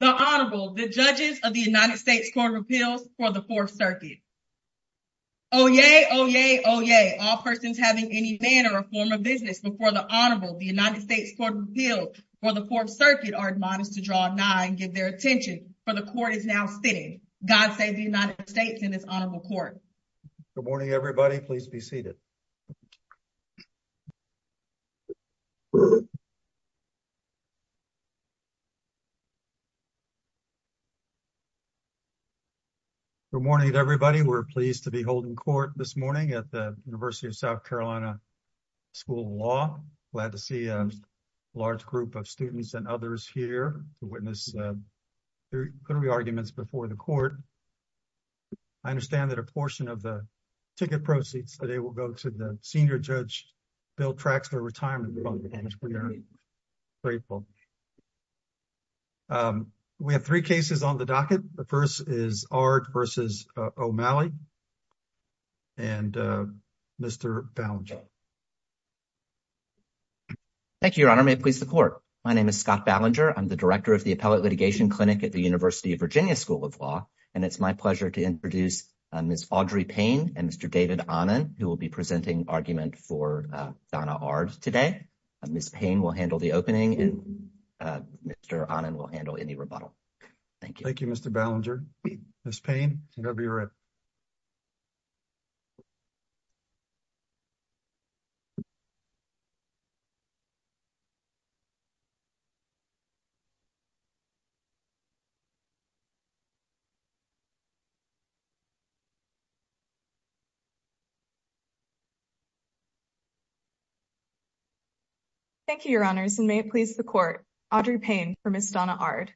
The Honorable, the judges of the United States Court of Appeals for the Fourth Circuit. Oyez, oyez, oyez, all persons having any manner or form of business before the Honorable, the United States Court of Appeals for the Fourth Circuit, are admonished to draw nigh and give their attention, for the Court is now sitting. God save the United States and this Honorable Court. Good morning, everybody. Please be seated. Good morning, everybody. We're pleased to be holding court this morning at the University of South Carolina School of Law. Glad to see a large group of students and others here to witness their arguments before the court. I understand that a portion of the ticket proceeds today will go to the senior judge, Bill Traxler, Retirement Fund Entrepreneur. Grateful. We have three cases on the docket. The first is Ard v. O'Malley and Mr. Ballinger. Thank you, Your Honor. May it please the Court. My name is Scott Ballinger. I'm the director of the Appellate Litigation Clinic at the University of Virginia School of Law, and it's my pleasure to introduce Ms. Audrey Payne and Mr. David Ahnen, who will be presenting argument for Donna Ard today. Ms. Payne will handle the opening, and Mr. Ahnen will handle any rebuttal. Thank you. Thank you, Mr. Ballinger. Ms. Payne, you may be ready. Thank you, Your Honors, and may it please the Court. Audrey Payne for Ms. Donna Ard.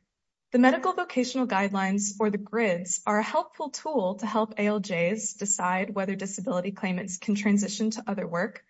The medical vocational guidelines, or the GRIDs, are a helpful tool to help ALJs decide whether disability claimants can transition to other work.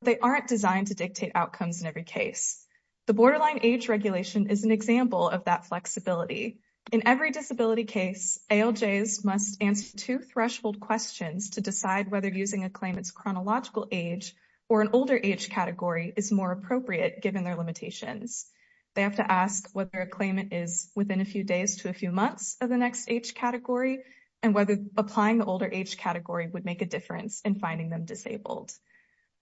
They aren't designed to dictate outcomes in every case. The borderline age regulation is an example of that flexibility. In every disability case, ALJs must answer two threshold questions to decide whether using a claimant's chronological age or an older age category is more appropriate given their limitations. They have to ask whether a claimant is within a few days to a few months of the next age category, and whether applying the older age category would make a difference in finding them disabled.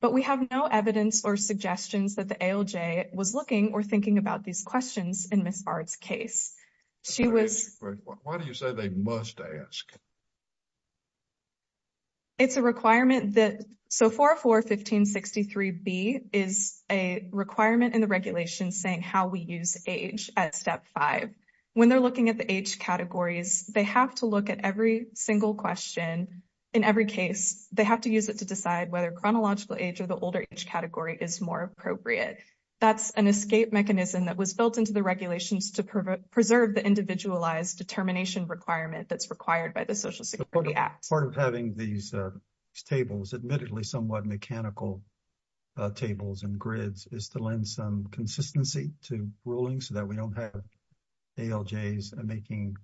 But we have no evidence or suggestions that the ALJ was looking or thinking about these questions in Ms. Ard's case. She was... Why do you say they must ask? It's a requirement that... So 404-1563-B is a requirement in the regulation saying how we use age at Step 5. When they're looking at the age categories, they have to look at every single question in every case. They have to use it to decide whether chronological age or the older age category is more appropriate. That's an escape mechanism that was built into the regulations to preserve the individualized determination requirement that's required by the Social Security Act. Part of having these tables, admittedly somewhat mechanical tables and grids, is to lend some consistency to rulings so that we don't have ALJs making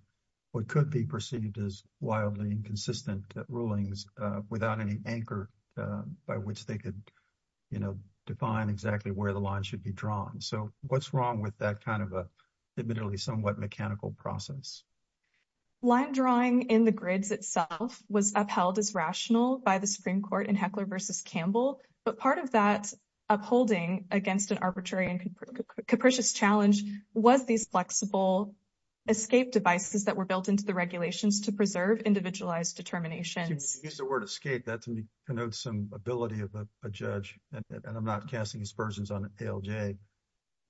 what could be perceived as wildly inconsistent rulings without any anchor by which they could define exactly where the line should be drawn. So what's wrong with that admittedly somewhat mechanical process? Line drawing in the grids itself was upheld as rational by the Supreme Court in Heckler v. Campbell. But part of that upholding against an arbitrary and capricious challenge was these flexible escape devices that were built into the regulations to preserve individualized determinations. You used the word escape. That to me connotes some ability of a and I'm not casting aspersions on ALJ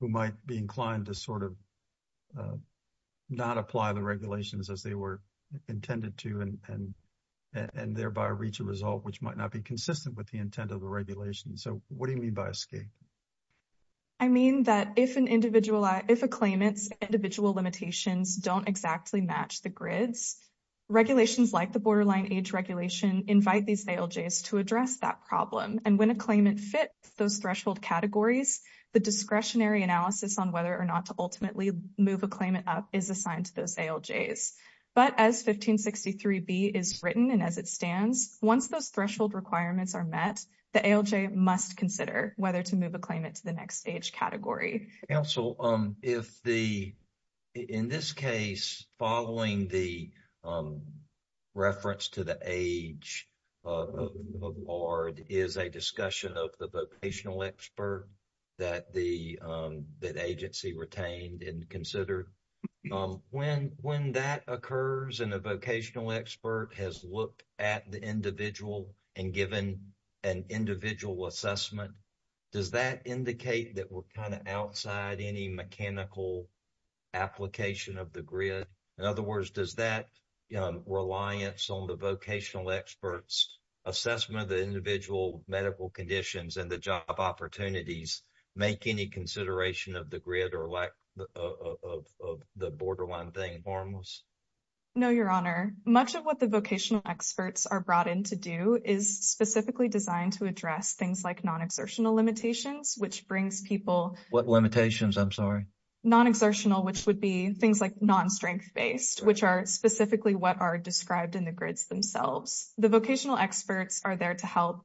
who might be inclined to sort of not apply the regulations as they were intended to and thereby reach a result which might not be consistent with the intent of the regulation. So what do you mean by escape? I mean that if a claimant's individual limitations don't exactly match the grids, regulations like the borderline age regulation invite these ALJs to address that problem. And when a claimant fits those threshold categories, the discretionary analysis on whether or not to ultimately move a claimant up is assigned to those ALJs. But as 1563B is written and as it stands, once those threshold requirements are met, the ALJ must consider whether to move a claimant to the next age category. Counsel, if the in this case following the reference to the age of BARD is a discussion of the vocational expert that the agency retained and considered, when that occurs and a vocational expert has looked at the individual and given an individual assessment, does that indicate that we're kind of outside any mechanical application of the grid? In other words, does that reliance on the vocational experts' assessment of the individual medical conditions and the job opportunities make any consideration of the grid or lack of the borderline thing harmless? No, Your Honor. Much of what the vocational experts are brought in to do is specifically designed to address things like non-exertional limitations, which brings people... What limitations? I'm sorry. Non-exertional, which would be things like non-strength-based, which are specifically what are described in the grids themselves. The vocational experts are there to help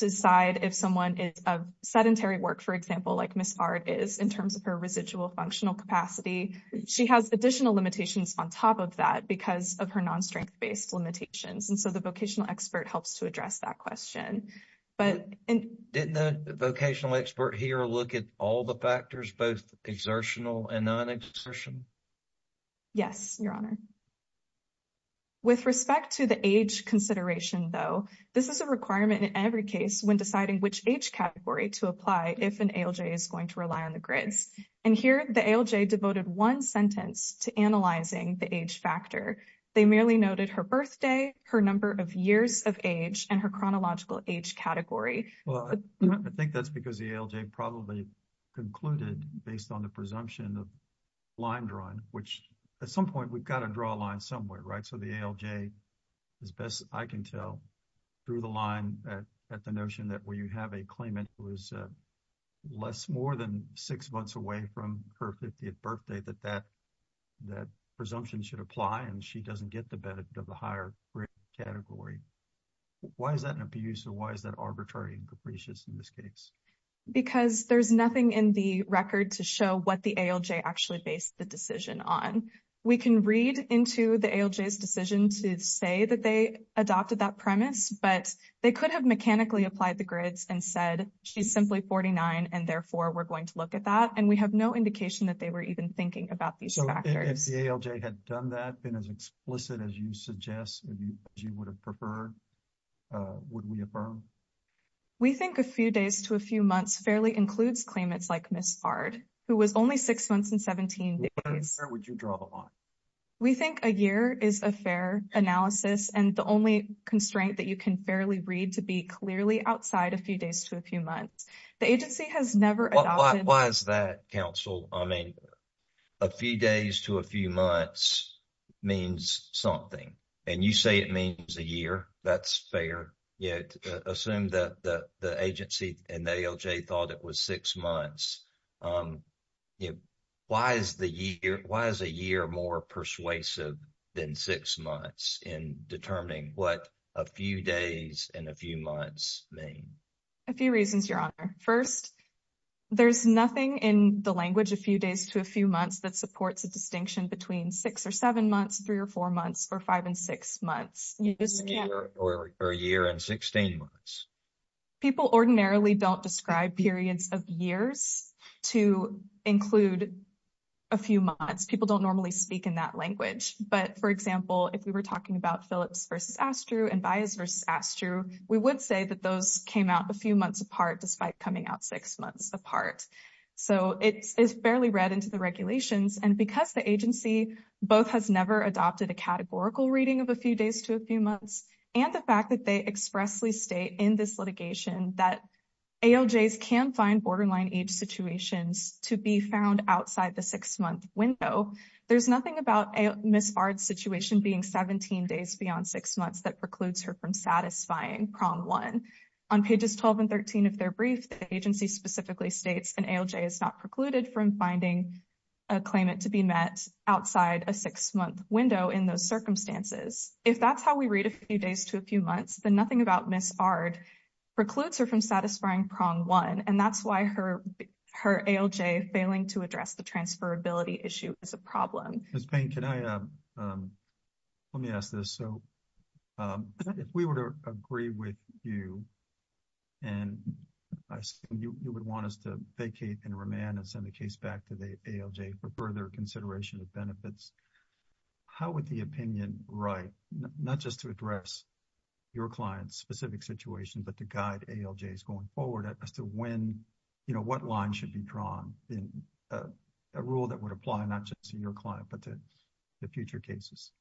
decide if someone is of sedentary work, for example, like Ms. Bard is in terms of her residual functional capacity. She has additional limitations on top of that because of her non-strength-based limitations. And so the vocational expert helps to address that question. But... Exertional and non-exertion? Yes, Your Honor. With respect to the age consideration, though, this is a requirement in every case when deciding which age category to apply if an ALJ is going to rely on the grids. And here, the ALJ devoted one sentence to analyzing the age factor. They merely noted her birthday, her number of years of age, and her chronological age category. Well, I think that's because the ALJ probably concluded based on the presumption of line drawing, which at some point, we've got to draw a line somewhere, right? So the ALJ, as best I can tell, drew the line at the notion that when you have a claimant who is less more than six months away from her 50th birthday, that that presumption should apply and she doesn't get the benefit of the higher grade category. Why is that an abuse? And why is that arbitrary and capricious in this case? Because there's nothing in the record to show what the ALJ actually based the decision on. We can read into the ALJ's decision to say that they adopted that premise, but they could have mechanically applied the grids and said, she's simply 49, and therefore, we're going to look at that. And we have no indication that they were even thinking about these factors. If the ALJ had done that, been as explicit as you suggest, as you would have preferred, would we affirm? We think a few days to a few months fairly includes claimants like Ms. Fard, who was only six months and 17 days. Where would you draw the line? We think a year is a fair analysis, and the only constraint that you can fairly read to be clearly outside a few days to a few months. The agency has never adopted... Why is that, counsel? I mean, a few days to a few months. That's fair. Assume that the agency and the ALJ thought it was six months. Why is a year more persuasive than six months in determining what a few days and a few months mean? A few reasons, Your Honor. First, there's nothing in the language, a few days to a few months, that supports a distinction between six or seven months, three or four months, or five and six months. Or a year and 16 months. People ordinarily don't describe periods of years to include a few months. People don't normally speak in that language. But, for example, if we were talking about Phillips versus Astru and Baez versus Astru, we would say that those came out a few months apart, despite coming out six months apart. So, it's fairly read into the to a few months and the fact that they expressly state in this litigation that ALJs can find borderline age situations to be found outside the six-month window. There's nothing about Ms. Bard's situation being 17 days beyond six months that precludes her from satisfying Prom 1. On pages 12 and 13 of their brief, the agency specifically states an ALJ is not precluded from finding a claimant to be met outside a six-month window in those circumstances. If that's how we read a few days to a few months, then nothing about Ms. Bard precludes her from satisfying Prom 1. And that's why her ALJ failing to address the transferability issue is a problem. Ms. Payne, let me ask this. So, if we were to agree with you and you would want us to vacate and remand and send the case back to ALJ for further consideration of benefits, how would the opinion write, not just to address your client's specific situation, but to guide ALJs going forward as to when, you know, what line should be drawn in a rule that would apply not just to your client, but to the future cases?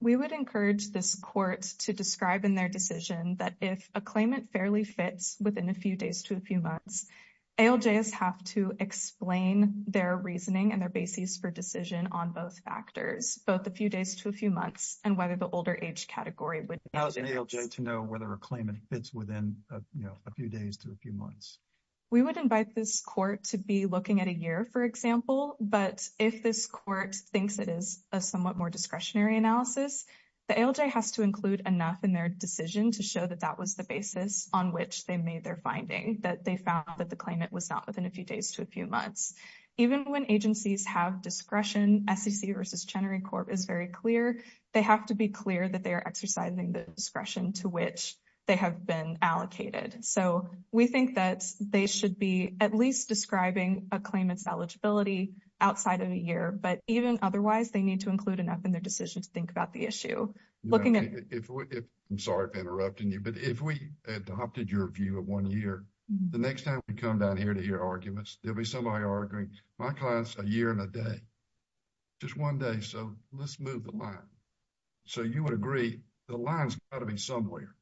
We would encourage this court to describe in their decision that if a claimant fairly fits within a few days to a few months, ALJs have to explain their reasoning and their basis for decision on both factors, both a few days to a few months and whether the older age category would fit. How is an ALJ to know whether a claimant fits within, you know, a few days to a few months? We would invite this court to be looking at a year, for example, but if this court thinks it is a somewhat more discretionary analysis, the ALJ has to include enough in their decision to show that that was the basis on which they made their finding, that they found that the claimant was not within a few days to a few months. Even when agencies have discretion, SEC versus Chenery Corp is very clear, they have to be clear that they are exercising the discretion to which they have been allocated. So, we think that they should be at least describing a claimant's eligibility outside of a year, but even otherwise, they need to include enough in their decision to I'm sorry if I'm interrupting you, but if we adopted your view of one year, the next time we come down here to hear arguments, there'll be somebody arguing, my client's a year and a day, just one day, so let's move the line. So, you would agree, the line's got to be somewhere.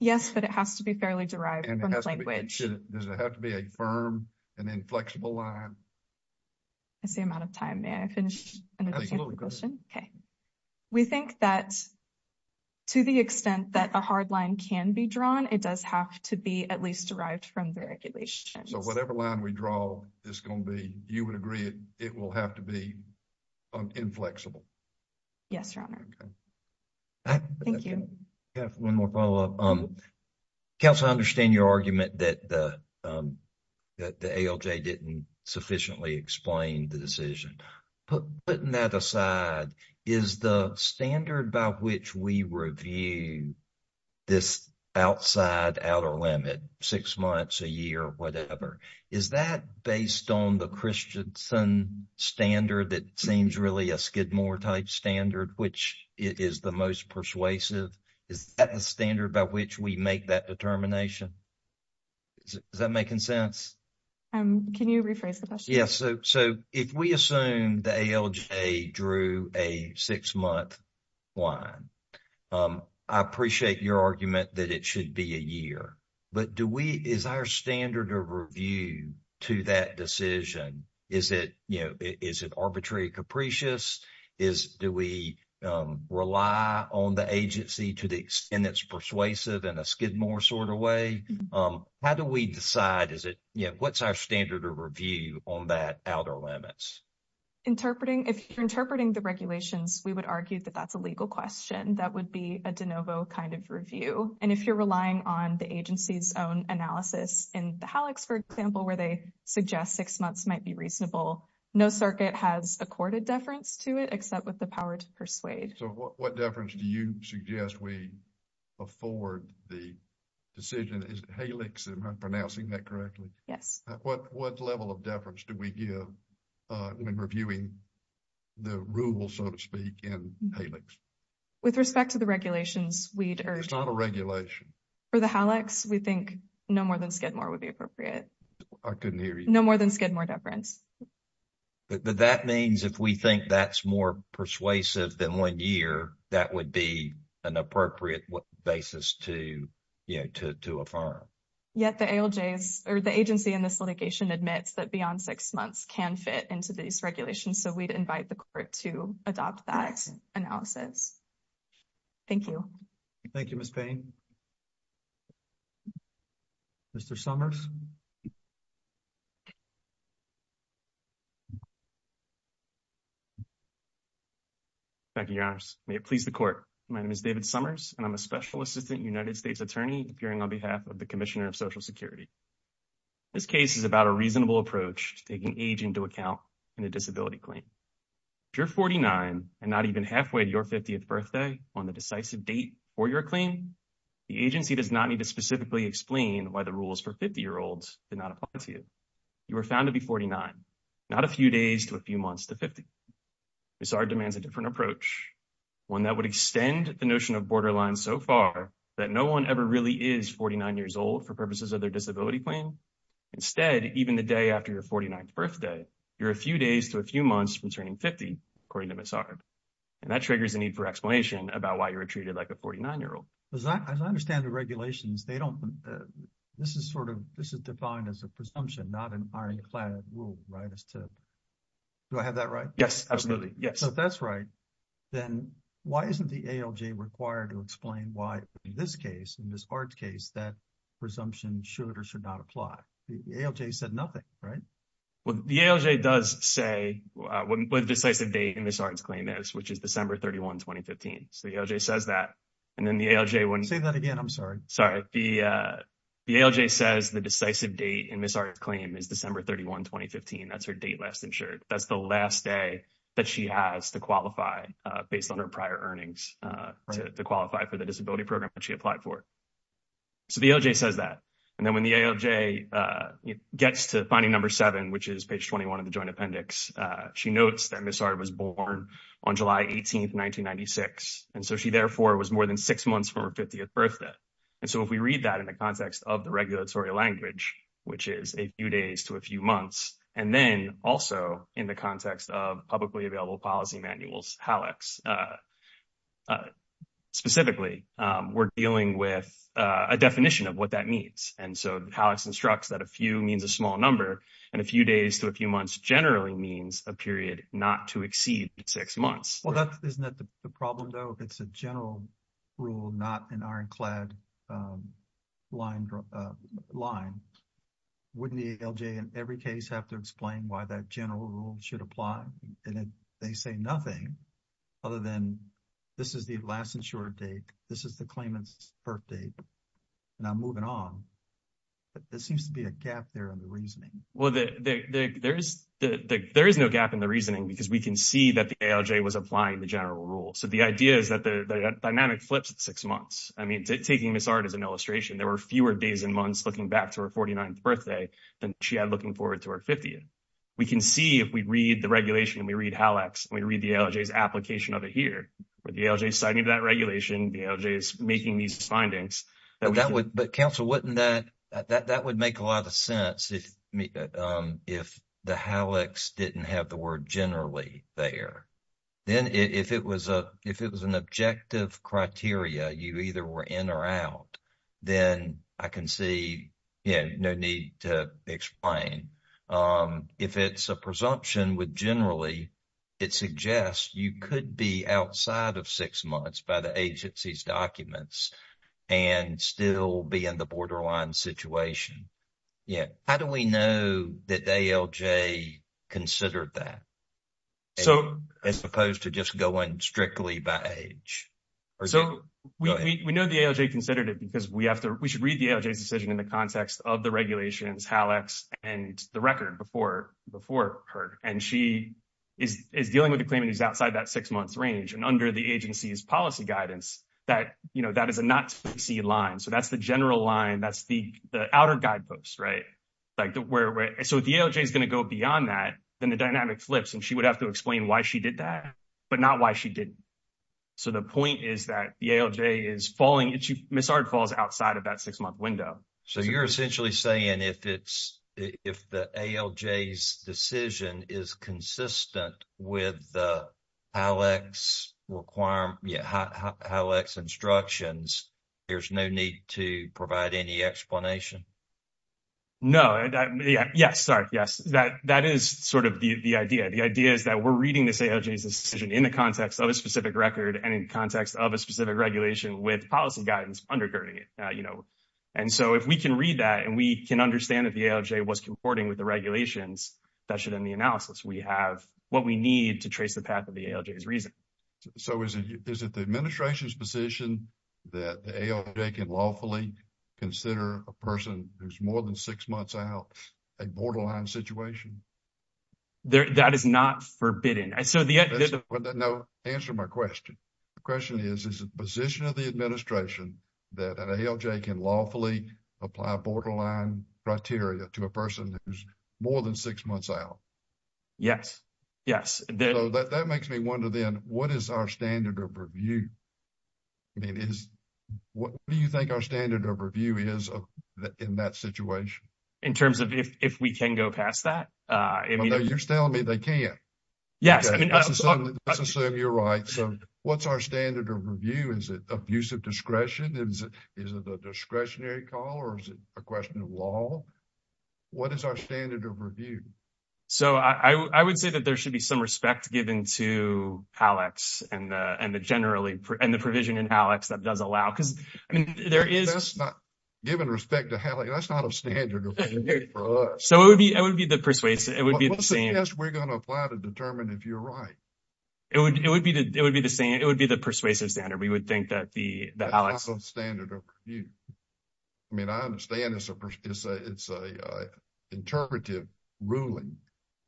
Yes, but it has to be fairly derived from the language. Does it have to be a firm and inflexible line? I see I'm out of time. May I finish? I think a little bit. Okay. We think that to the extent that a hard line can be drawn, it does have to be at least derived from the regulations. So, whatever line we draw is going to be, you would agree, it will have to be inflexible. Yes, Your Honor. Thank you. I have one more follow-up. Counsel, I understand your argument that the ALJ didn't sufficiently explain the decision. Putting that aside, is the standard by which we review this outside outer limit, six months, a year, whatever, is that based on the Christensen standard that seems really a Skidmore type standard, which is the most persuasive? Is that the standard by which we make that determination? Is that making sense? Can you rephrase the question? Yes. So, if we assume the ALJ drew a six-month line, I appreciate your argument that it should be a year. But do we, is our standard of review to that decision, is it arbitrary, capricious? Do we rely on the agency to the extent it's our standard of review on that outer limits? If you're interpreting the regulations, we would argue that that's a legal question. That would be a de novo kind of review. And if you're relying on the agency's own analysis in the HALACS, for example, where they suggest six months might be reasonable, no circuit has accorded deference to it except with the power to persuade. So, what deference do you suggest we afford the decision? Is it HALACS? Am I pronouncing that correctly? Yes. What level of deference do we give when reviewing the rule, so to speak, in HALACS? With respect to the regulations, we'd urge... It's not a regulation. For the HALACS, we think no more than Skidmore would be appropriate. I couldn't hear you. No more than Skidmore deference. But that means if we think that's more persuasive than one year, that would be an appropriate basis to affirm. Yet the ALJs or the agency in this litigation admits that beyond six months can fit into these regulations. So, we'd invite the court to adopt that analysis. Thank you. Thank you, Ms. Payne. Mr. Summers? Thank you, Your Honors. May it please the court. My name is David Summers, and I'm a Special Assistant United States Attorney appearing on behalf of the Commissioner of Social Security. This case is about a reasonable approach to taking age into account in a disability claim. If you're 49 and not even halfway to your 50th birthday on the decisive date for your claim, the agency does not need to specifically explain why the rules for 50-year-olds did not apply to you. You were found to be 49, not a few days to a few months to 50. Ms. Ard demands a different approach, one that would extend the notion of borderlines so far that no one ever really is 49 years old for purposes of their disability claim. Instead, even the day after your 49th birthday, you're a few days to a few months from turning 50, according to Ms. Ard. And that triggers a need for explanation about why you were treated like a 49-year-old. As I understand the regulations, this is defined as a presumption, not an iron-clad rule, right? Do I have that right? Yes, absolutely. Yes. If that's right, then why isn't the ALJ required to explain why, in this case, in Ms. Ard's case, that presumption should or should not apply? The ALJ said nothing, right? Well, the ALJ does say what the decisive date in Ms. Ard's claim is. The ALJ says the decisive date in Ms. Ard's claim is December 31, 2015. That's her date last insured. That's the last day that she has to qualify based on her prior earnings to qualify for the disability program that she applied for. So the ALJ says that. And then when the ALJ gets to finding number 7, which is page 21 of the Joint Appendix, she notes that Ms. Ard was born on July 18, 1996. And so she therefore was more than six months from her 50th birthday. And so if we read that in the context of the regulatory language, which is a few days to a few months, and then also in the context of publicly available policy manuals, HALACs, specifically, we're dealing with a definition of what that means. And so HALACs instructs that a few means a small number, and a few days to a few months generally means a period not to exceed six months. Well, isn't that the problem, though? If it's a general rule, not an ironclad line, wouldn't the ALJ in every case have to explain why that general rule should apply? And they say nothing other than this is the last insured date, this is the claimant's birthday, and I'm moving on. But there seems to be a gap there in the reasoning. Well, there is no gap in the reasoning because we can see that the ALJ was applying the general rule. So the idea is that the dynamic flips at six months. I mean, taking Ms. Ard as an illustration, there were fewer days and months looking back to her 49th birthday than she had looking forward to her 50th. We can see if we read the regulation and we read HALACs and we read the application of it here. But the ALJ is signing that regulation, the ALJ is making these findings. But counsel, wouldn't that, that would make a lot of sense if the HALACs didn't have the word generally there. Then if it was an objective criteria, you either were in or out, then I can no need to explain. If it's a presumption with generally, it suggests you could be outside of six months by the agency's documents and still be in the borderline situation. How do we know that the ALJ considered that as opposed to just going strictly by age? So we know the ALJ considered it because we have to, we should read the ALJ's decision in the context of the regulations, HALACs and the record before her. And she is dealing with the claimant who's outside that six months range. And under the agency's policy guidance, that is a not-to-be-seen line. So that's the general line. That's the outer guideposts, right? So if the ALJ is going to go beyond that, then the dynamic flips and she would have to explain why she did that, but not why she didn't. So the point is that the ALJ is falling into, Ms. Ard falls outside of that six-month window. So you're essentially saying if it's, if the ALJ's decision is consistent with the HALACs requirement, yeah, HALACs instructions, there's no need to provide any explanation? No, yes, sorry, yes. That is sort of the idea. The idea is that we're reading this ALJ's decision in the context of a specific record and in context of a specific regulation with policy guidance undergirding it, you know. And so if we can read that and we can understand that the ALJ was comporting with the regulations, that should end the analysis. We have what we need to trace the path of the ALJ's reason. So is it the administration's position that the ALJ can lawfully consider a person who's more than six months out a borderline situation? That is not no, answer my question. The question is, is it the position of the administration that an ALJ can lawfully apply borderline criteria to a person who's more than six months out? Yes, yes. So that makes me wonder then, what is our standard of review? I mean, is, what do you think our standard of review is in that situation? In terms of if we can go past that? I mean. You're telling me they can't. Yes. I mean, let's assume you're right. So what's our standard of review? Is it abusive discretion? Is it a discretionary call? Or is it a question of law? What is our standard of review? So I would say that there should be some respect given to ALEKS and the generally, and the provision in ALEKS that does allow. Because I mean, there is. That's not, given respect to ALEKS, that's not a standard of review for us. It would be the persuasive, it would be the same. We're going to apply to determine if you're right. It would be the same. It would be the persuasive standard. We would think that the ALEKS. That's not a standard of review. I mean, I understand it's a interpretive ruling.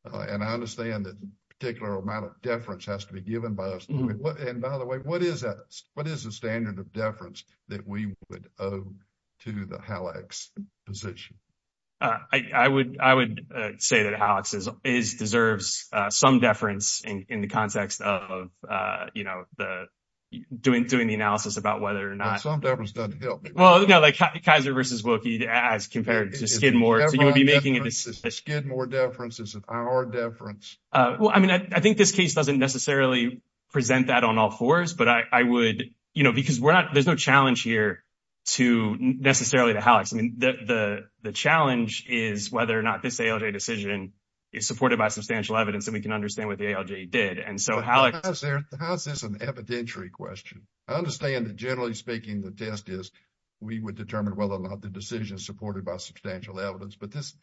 And I understand that a particular amount of deference has to be given by us. And by the way, what is that? What is the standard of deference that we would owe to the ALEKS position? I would say that ALEKS deserves some deference in the context of, you know, doing the analysis about whether or not. Some deference doesn't help. Well, no, like Kaiser versus Wilkie as compared to Skidmore. So you would be making a decision. Skidmore deference is our deference. Well, I mean, I think this case doesn't necessarily present that on all fours. But I would, you know, because we're not, there's no challenge here to necessarily the ALEKS. I mean, the challenge is whether or not this ALJ decision is supported by substantial evidence. And we can understand what the ALJ did. And so how is there, how is this an evidentiary question? I understand that generally speaking, the test is we would determine whether or not the decision is supported by substantial evidence. But this,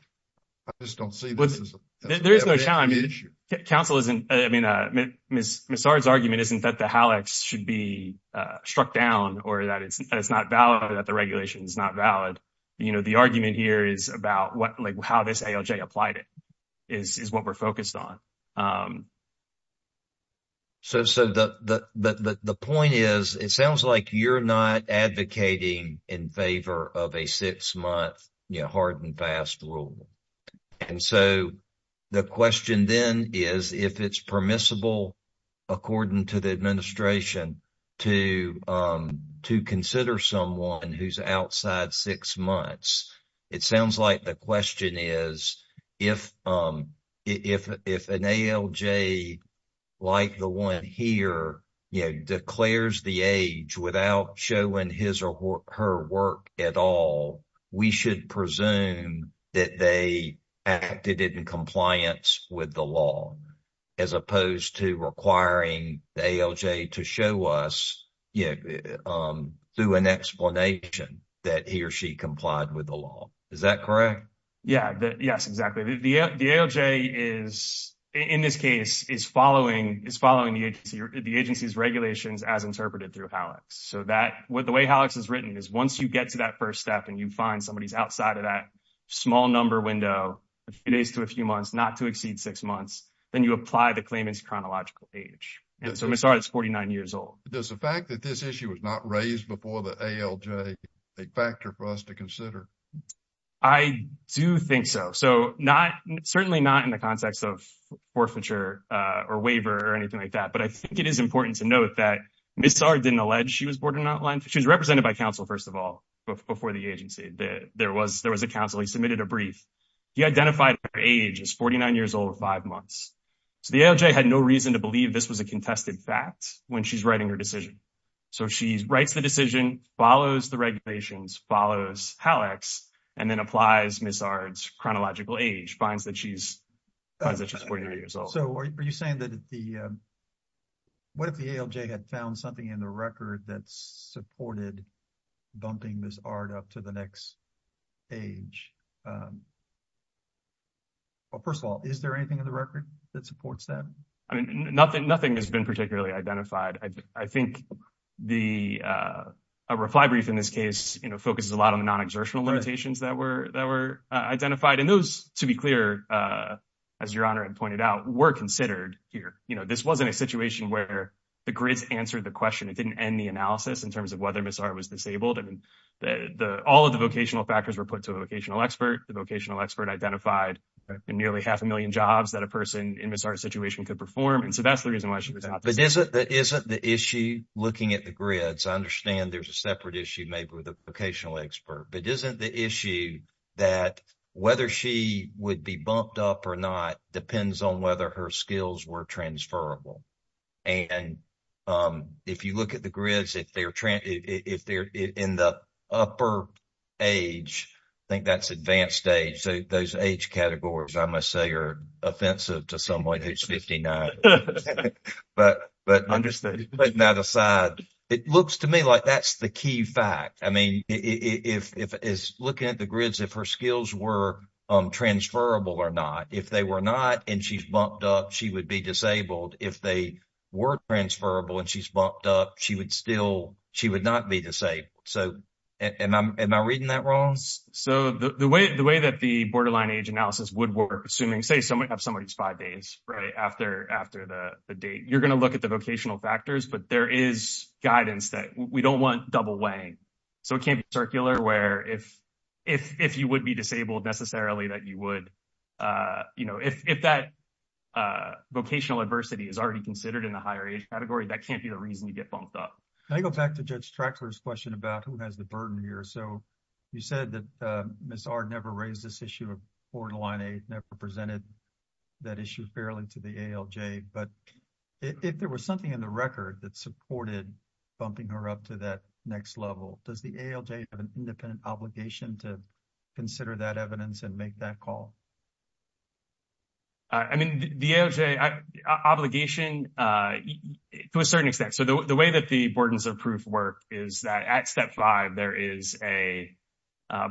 I just don't see this as an evidentiary issue. There is no challenge. Council isn't, I mean, Ms. Ard's argument isn't that the ALEKS should be the argument here is about what, like how this ALJ applied it is what we're focused on. So the point is, it sounds like you're not advocating in favor of a six-month, you know, hard and fast rule. And so the question then is if it's permissible, according to the administration, to consider someone who's outside six months, it sounds like the question is if an ALJ like the one here, you know, declares the age without showing his or her work at all, we should presume that they acted in compliance with the law, as opposed to requiring the ALJ to show us, you know, through an explanation that he or she complied with the law. Is that correct? Yeah, yes, exactly. The ALJ is, in this case, is following the agency's regulations as interpreted through ALEKS. So that, the way ALEKS is written is once you get to that first step and you find somebody who's outside of that small number window, a few days to a few months, not to exceed six months, then you apply the claimant's chronological age. And so Ms. Saar is 49 years old. Does the fact that this issue was not raised before the ALJ a factor for us to consider? I do think so. So not, certainly not in the context of forfeiture or waiver or anything like that. But I think it is important to note that Ms. Saar didn't allege she was borderline, she was represented by counsel, first of all, before the agency. There was a counsel, he submitted a brief. He identified her age as 49 years old, five months. So the ALJ had no reason to believe this was a contested fact when she's writing her decision. So she writes the decision, follows the regulations, follows ALEKS, and then applies Ms. Saar's chronological age, finds that she's 49 years old. So are you saying that the, what if the ALJ had found something in the record that supported bumping Ms. Saar up to the next age? Well, first of all, is there anything in the record that supports that? I mean, nothing has been particularly identified. I think the, a reply brief in this case, you know, focuses a lot on the non-exertional limitations that were identified. And those, to be clear, as Your Honor had pointed out, were considered here. You know, this wasn't a situation where the grids answered the question. It didn't end the analysis in terms of whether Ms. Saar was a vocational expert. The vocational expert identified nearly half a million jobs that a person in Ms. Saar's situation could perform. And so that's the reason why she was out. But isn't the issue looking at the grids, I understand there's a separate issue maybe with a vocational expert, but isn't the issue that whether she would be bumped up or not depends on whether her skills were transferable. And if you look at the grids, if they're in the upper age, I think that's advanced age, so those age categories, I must say, are offensive to someone who's 59. But putting that aside, it looks to me like that's the key fact. I mean, if looking at the grids, if her skills were transferable or not, if they were not and she's bumped up, she would be disabled. If they were transferable and she's bumped up, she would not be disabled. So am I reading that wrong? So the way that the borderline age analysis would work, assuming, say, someone has somebody who's five days after the date, you're going to look at the vocational factors, but there is guidance that we don't want double weighing. So it can't be circular where if you would be disabled necessarily that you would, if that vocational adversity is already considered in the higher age category, that can't be the reason you get bumped up. Can I go back to Judge Trackler's question about who has the burden here? So you said that Ms. R never raised this issue of borderline age, never presented that issue fairly to the ALJ, but if there was something in the record that supported bumping her up to that next level, does the ALJ have an independent obligation to consider that evidence and make that call? I mean, the ALJ obligation, to a certain extent. So the way that the burdens of proof work is that at step five, there is a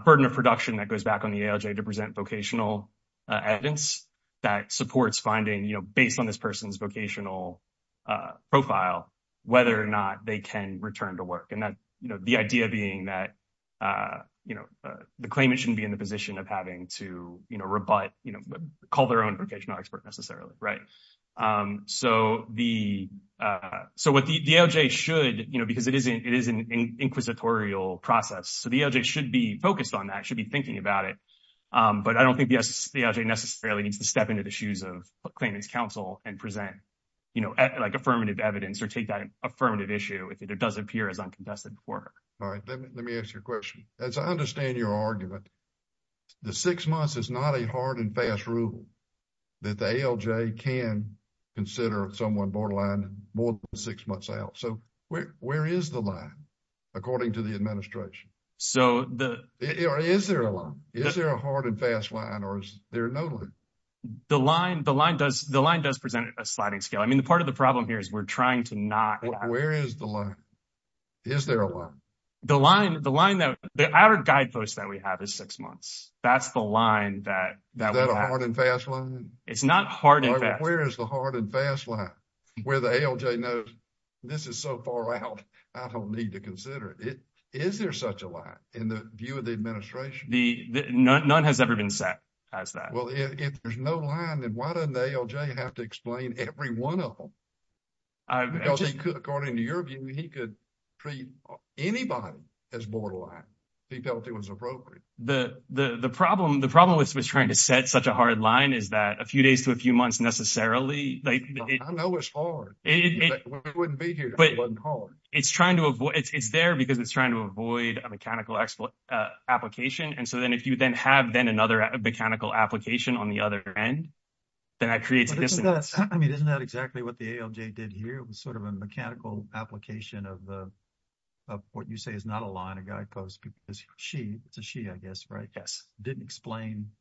burden of production that goes back on the ALJ to present vocational evidence that supports finding, you know, based on this person's vocational profile, whether or not they can return to work. And that, you know, the idea being that, you know, the claimant shouldn't the position of having to, you know, rebut, you know, call their own vocational expert necessarily, right? So the, so what the ALJ should, you know, because it is an inquisitorial process, so the ALJ should be focused on that, should be thinking about it. But I don't think the ALJ necessarily needs to step into the shoes of claimant's counsel and present, you know, like affirmative evidence or take that affirmative issue if it does appear as uncontested work. All right, let me ask you a question. As I understand your argument, the six months is not a hard and fast rule that the ALJ can consider someone borderline more than six months out. So where is the line, according to the administration? So the- Is there a line? Is there a hard and fast line or is there no line? The line, the line does, the line does present a sliding scale. I mean, the part of the problem here is we're trying to not- Where is the line? Is there a line? The line, the line that, the average guidepost that we have is six months. That's the line that- Is that a hard and fast line? It's not hard and fast. Where is the hard and fast line? Where the ALJ knows this is so far out, I don't need to consider it. Is there such a line in the view of the administration? The, none has ever been set as that. Well, if there's no line, then why doesn't the ALJ have to explain every one of them? Because he could, according to your view, he could treat anybody as borderline if he felt it was appropriate. The, the problem, the problem with trying to set such a hard line is that a few days to a few months necessarily, like- I know it's hard. It wouldn't be here if it wasn't hard. It's trying to avoid, it's there because it's trying to avoid a mechanical application. And so then if you then have then another mechanical application on the other end, then that creates- I mean, isn't that exactly what the ALJ did here? It was sort of a mechanical application of the, of what you say is not a line, a guidepost because she, it's a she, I guess, right? Yes. Didn't explain,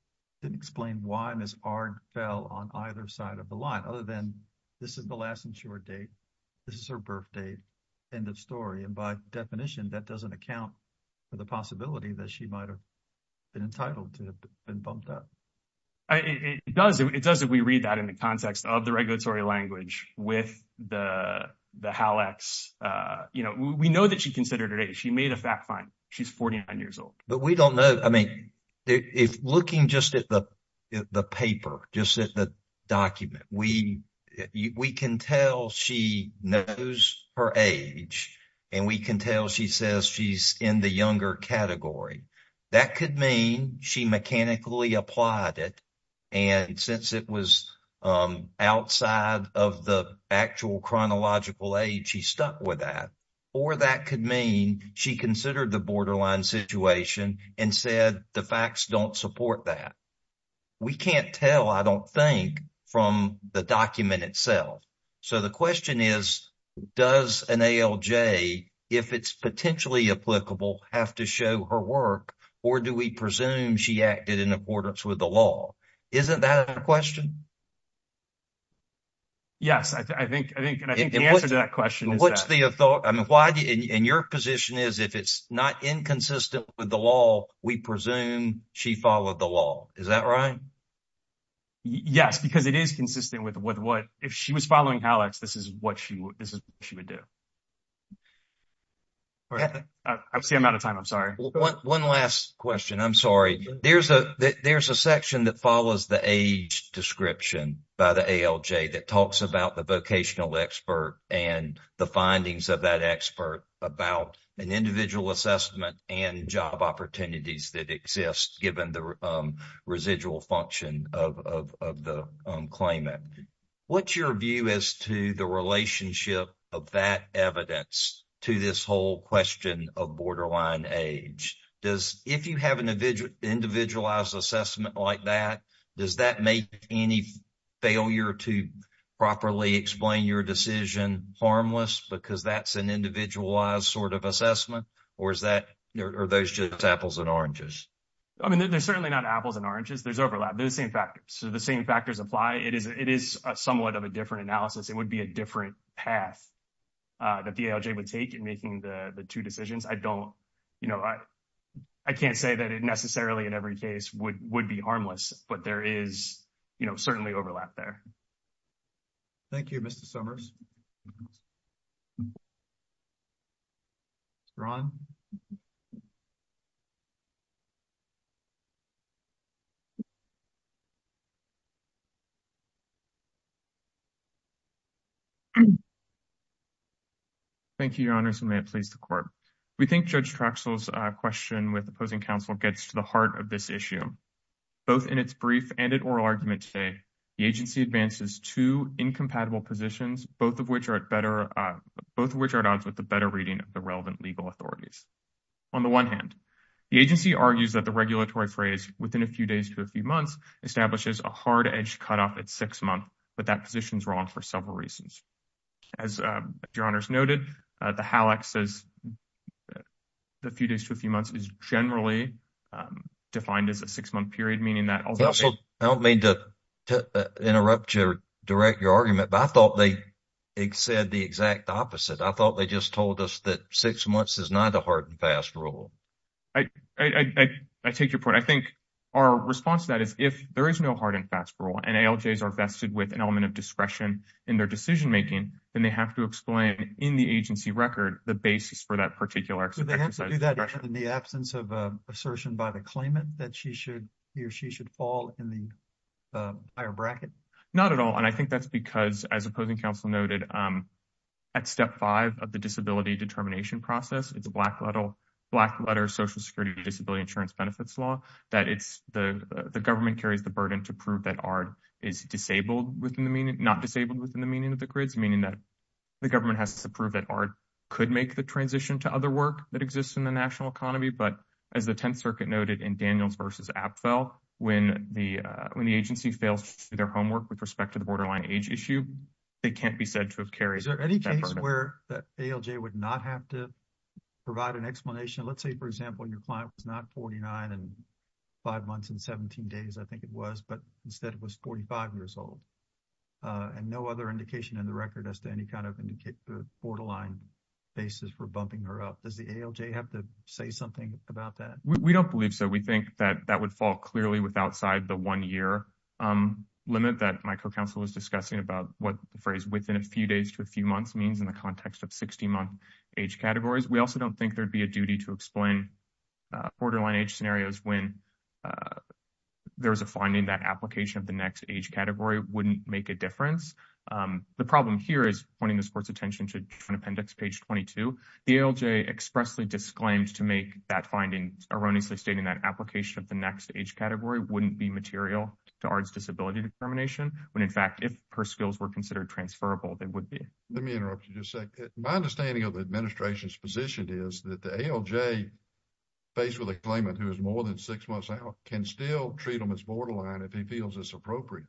didn't explain why this arc fell on either side of the line, other than this is the last and sure date. This is her birth date, end of story. And by definition, that doesn't account for the possibility that she might've been entitled to have been bumped up. I, it does, it does if we read that in the context of the regulatory language with the, the Hal X, you know, we know that she considered her age. She made a fact find, she's 49 years old. But we don't know, I mean, if looking just at the, the paper, just at the document, we, we can tell she knows her age and we can tell she says she's in the younger category. That could mean she mechanically applied it and since it was outside of the actual chronological age, she stuck with that. Or that could mean she considered the borderline situation and said the facts don't support that. We can't tell, I don't think, from the document itself. So the question is, does an ALJ, if it's potentially applicable, have to show her work or do we presume she acted in accordance with the law? Isn't that a question? Yes, I think, I think, and I think the answer to that question is that. What's the, I mean, why, and your position is if it's not inconsistent with the law, we presume she followed the law. Is that right? Yes, because it is consistent with what, if she was following HalEx, this is what she, this is what she would do. I see I'm out of time. I'm sorry. One last question. I'm sorry. There's a, there's a section that follows the age description by the ALJ that talks about the vocational expert and the findings of that expert about an individual assessment and job opportunities that exist, given the residual function of the claimant. What's your view as to the relationship of that evidence to this whole question of borderline age? Does, if you have an individualized assessment like that, does that make any failure to properly explain your decision harmless because that's an There's certainly not apples and oranges. There's overlap. They're the same factors. So, the same factors apply. It is somewhat of a different analysis. It would be a different path that the ALJ would take in making the two decisions. I don't, you know, I can't say that it necessarily in every case would be harmless, but there is, you know, certainly overlap there. Thank you, Mr. Summers. Ron? Thank you, Your Honors, and may it please the Court. We think Judge Traxell's question with opposing counsel gets to the heart of this issue. Both in its brief and in oral argument today, the agency advances two incompatible positions, both of which are at odds with the better reading of the relevant legal authorities. On the one hand, the agency argues that the regulatory phrase within a few days to a few months establishes a hard-edged cutoff at six months, but that position is wrong for several reasons. As Your Honors noted, the HALAC says the few days to a defined as a six-month period, meaning that although— I don't mean to interrupt you or direct your argument, but I thought they said the exact opposite. I thought they just told us that six months is not a hard-and-fast rule. I take your point. I think our response to that is if there is no hard-and-fast rule and ALJs are vested with an element of discretion in their decision making, then they have to explain in the agency record the basis for that particular exercise. In the absence of assertion by the claimant that he or she should fall in the higher bracket? Not at all, and I think that's because, as opposing counsel noted, at step five of the disability determination process, it's a black letter Social Security Disability Insurance Benefits Law, that the government carries the burden to prove that ARD is not disabled within the meaning of the grids, meaning that the government has to prove that ARD could make transition to other work that exists in the national economy. But as the Tenth Circuit noted in Daniels v. Apfel, when the agency fails to do their homework with respect to the borderline age issue, they can't be said to have carried that burden. Is there any case where that ALJ would not have to provide an explanation? Let's say, for example, your client was not 49 and five months and 17 days, I think it was, but instead was 45 years old and no other indication in the basis for bumping her up. Does the ALJ have to say something about that? We don't believe so. We think that that would fall clearly with outside the one-year limit that my co-counsel is discussing about what the phrase within a few days to a few months means in the context of 60-month age categories. We also don't think there'd be a duty to explain borderline age scenarios when there's a finding that application of the next age category wouldn't make a difference. The problem here is pointing this court's attention to appendix page 22. The ALJ expressly disclaimed to make that finding erroneously stating that application of the next age category wouldn't be material to ARDS disability determination, when in fact, if her skills were considered transferable, they would be. Let me interrupt you just a sec. My understanding of the administration's position is that the ALJ, faced with a claimant who is more than six months out, can still treat them as borderline if he feels it's appropriate.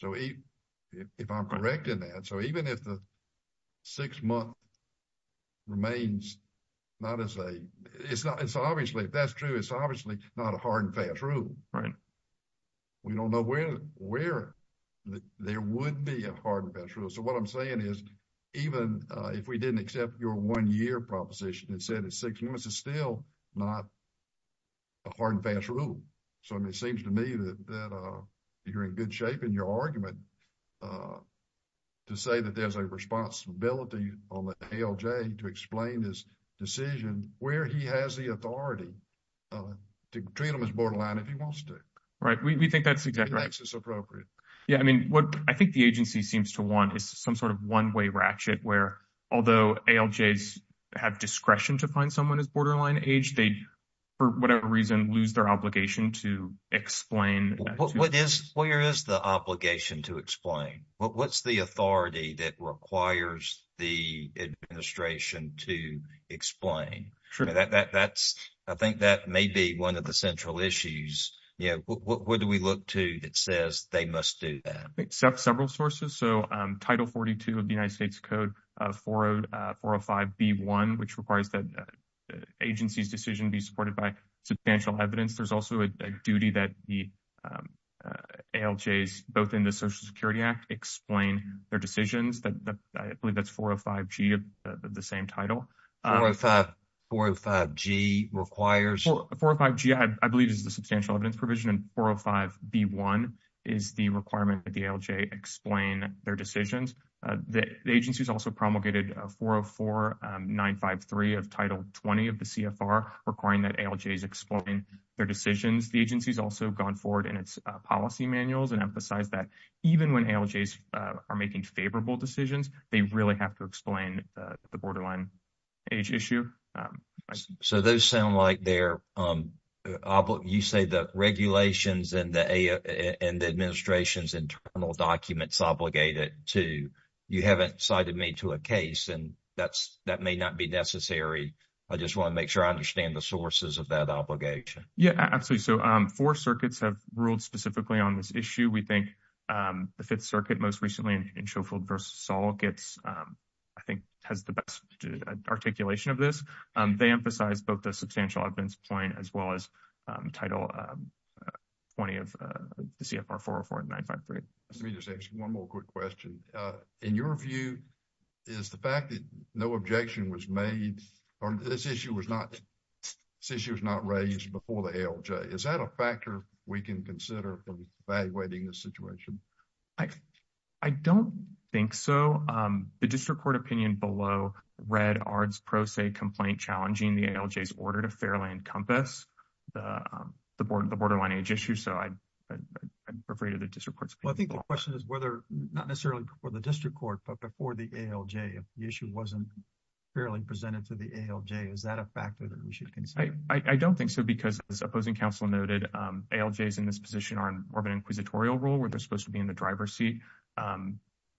So, if I'm correct in that, so even if the six-month remains not as a, it's not, it's obviously, if that's true, it's obviously not a hard and fast rule. We don't know where there would be a hard and fast rule. So, what I'm saying is, even if we didn't accept your one-year proposition that said it's six months, it's still not a hard and fast rule. So, I mean, it seems to me that you're in good shape in your argument to say that there's a responsibility on the ALJ to explain his decision where he has the authority to treat them as borderline if he wants to. Right. We think that's exactly right. If he thinks it's appropriate. Yeah. I mean, what I think the agency seems to want is some sort of one-way ratchet where, although ALJs have discretion to find someone as borderline age, they, for whatever reason, lose their obligation to explain. Where is the obligation to explain? What's the authority that requires the administration to explain? I think that may be one of the central issues. Yeah. What do we look to that says they must do that? Except several sources. So, Title 42 of the United States Code 405B1, which requires that agency's decision be supported by substantial evidence. There's also a duty that the ALJs, both in the Social Security Act, explain their decisions. I believe that's 405G of the same title. 405G requires? 405G, I believe, is the substantial evidence provision, and 405B1 is the requirement that the CFR, requiring that ALJs explain their decisions. The agency's also gone forward in its policy manuals and emphasized that even when ALJs are making favorable decisions, they really have to explain the borderline age issue. So, those sound like they're, you say the regulations and the administration's internal documents obligate it to, you haven't cited me to a case, and that may not be necessary. I just want to make sure I understand the sources of that obligation. Yeah, absolutely. So, four circuits have ruled specifically on this issue. We think the Fifth Circuit most recently in Schofield v. Saul gets, I think, has the best articulation of this. They emphasize both the substantial evidence point as well as Title 20 of the CFR 404 and 953. Let me just ask one more quick question. In your view, is the fact that no objection was made or this issue was not raised before the ALJ, is that a factor we can consider in evaluating this situation? I don't think so. The district court opinion below read ARDS Pro Se complaint challenging the ALJ's order to fairly encompass the borderline age issue, so I'd refer you to the district court's opinion. Well, I think the question is whether, not necessarily before the district court, but before the ALJ. If the issue wasn't fairly presented to the ALJ, is that a factor that we should consider? I don't think so because, as opposing counsel noted, ALJs in this position are more of an inquisitorial role where they're supposed to be in the driver's seat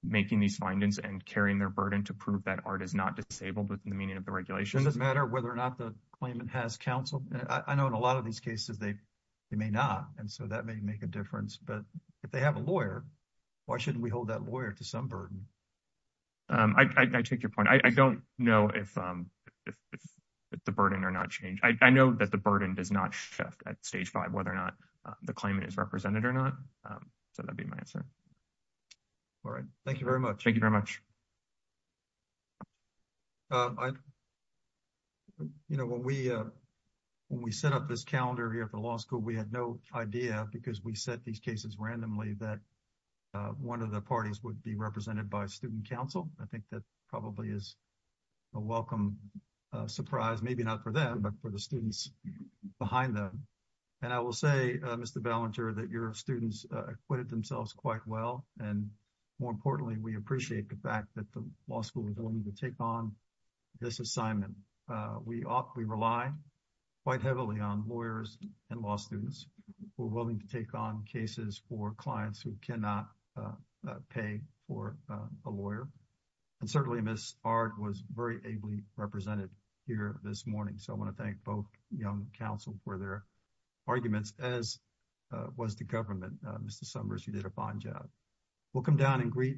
making these findings and carrying their burden to prove that ARD is not disabled within the meaning of the regulation. Does it matter whether or not the claimant has counsel? I know in a lot of these cases they may not, and so that may make a difference. But if they have a lawyer, why shouldn't we hold that lawyer to some burden? I take your point. I don't know if the burden or not changed. I know that the burden does not shift at Stage 5 whether or not the claimant is represented or not, so that'd be my answer. All right. Thank you very much. Thank you very much. You know, when we set up this calendar here at the law school, we had no idea because we set these cases randomly that one of the parties would be represented by student counsel. I think that probably is a welcome surprise, maybe not for them, but for the students behind them. And I will say, Mr. Ballenger, that your students acquitted themselves quite well, and more importantly, we appreciate the fact that the law school is willing to take on this assignment. We rely quite heavily on lawyers and law students who are willing to take on cases for clients who cannot pay for a lawyer. And certainly, Ms. Ard was very ably represented here this morning, so I want to thank both young counsel for their arguments, as was the government. Mr. Summers, you did a fine job. We'll come down and greet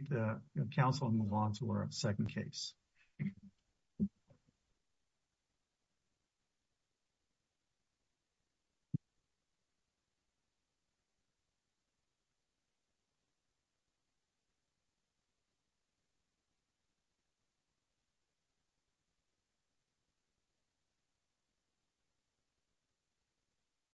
counsel and move on to our second case. Thank you.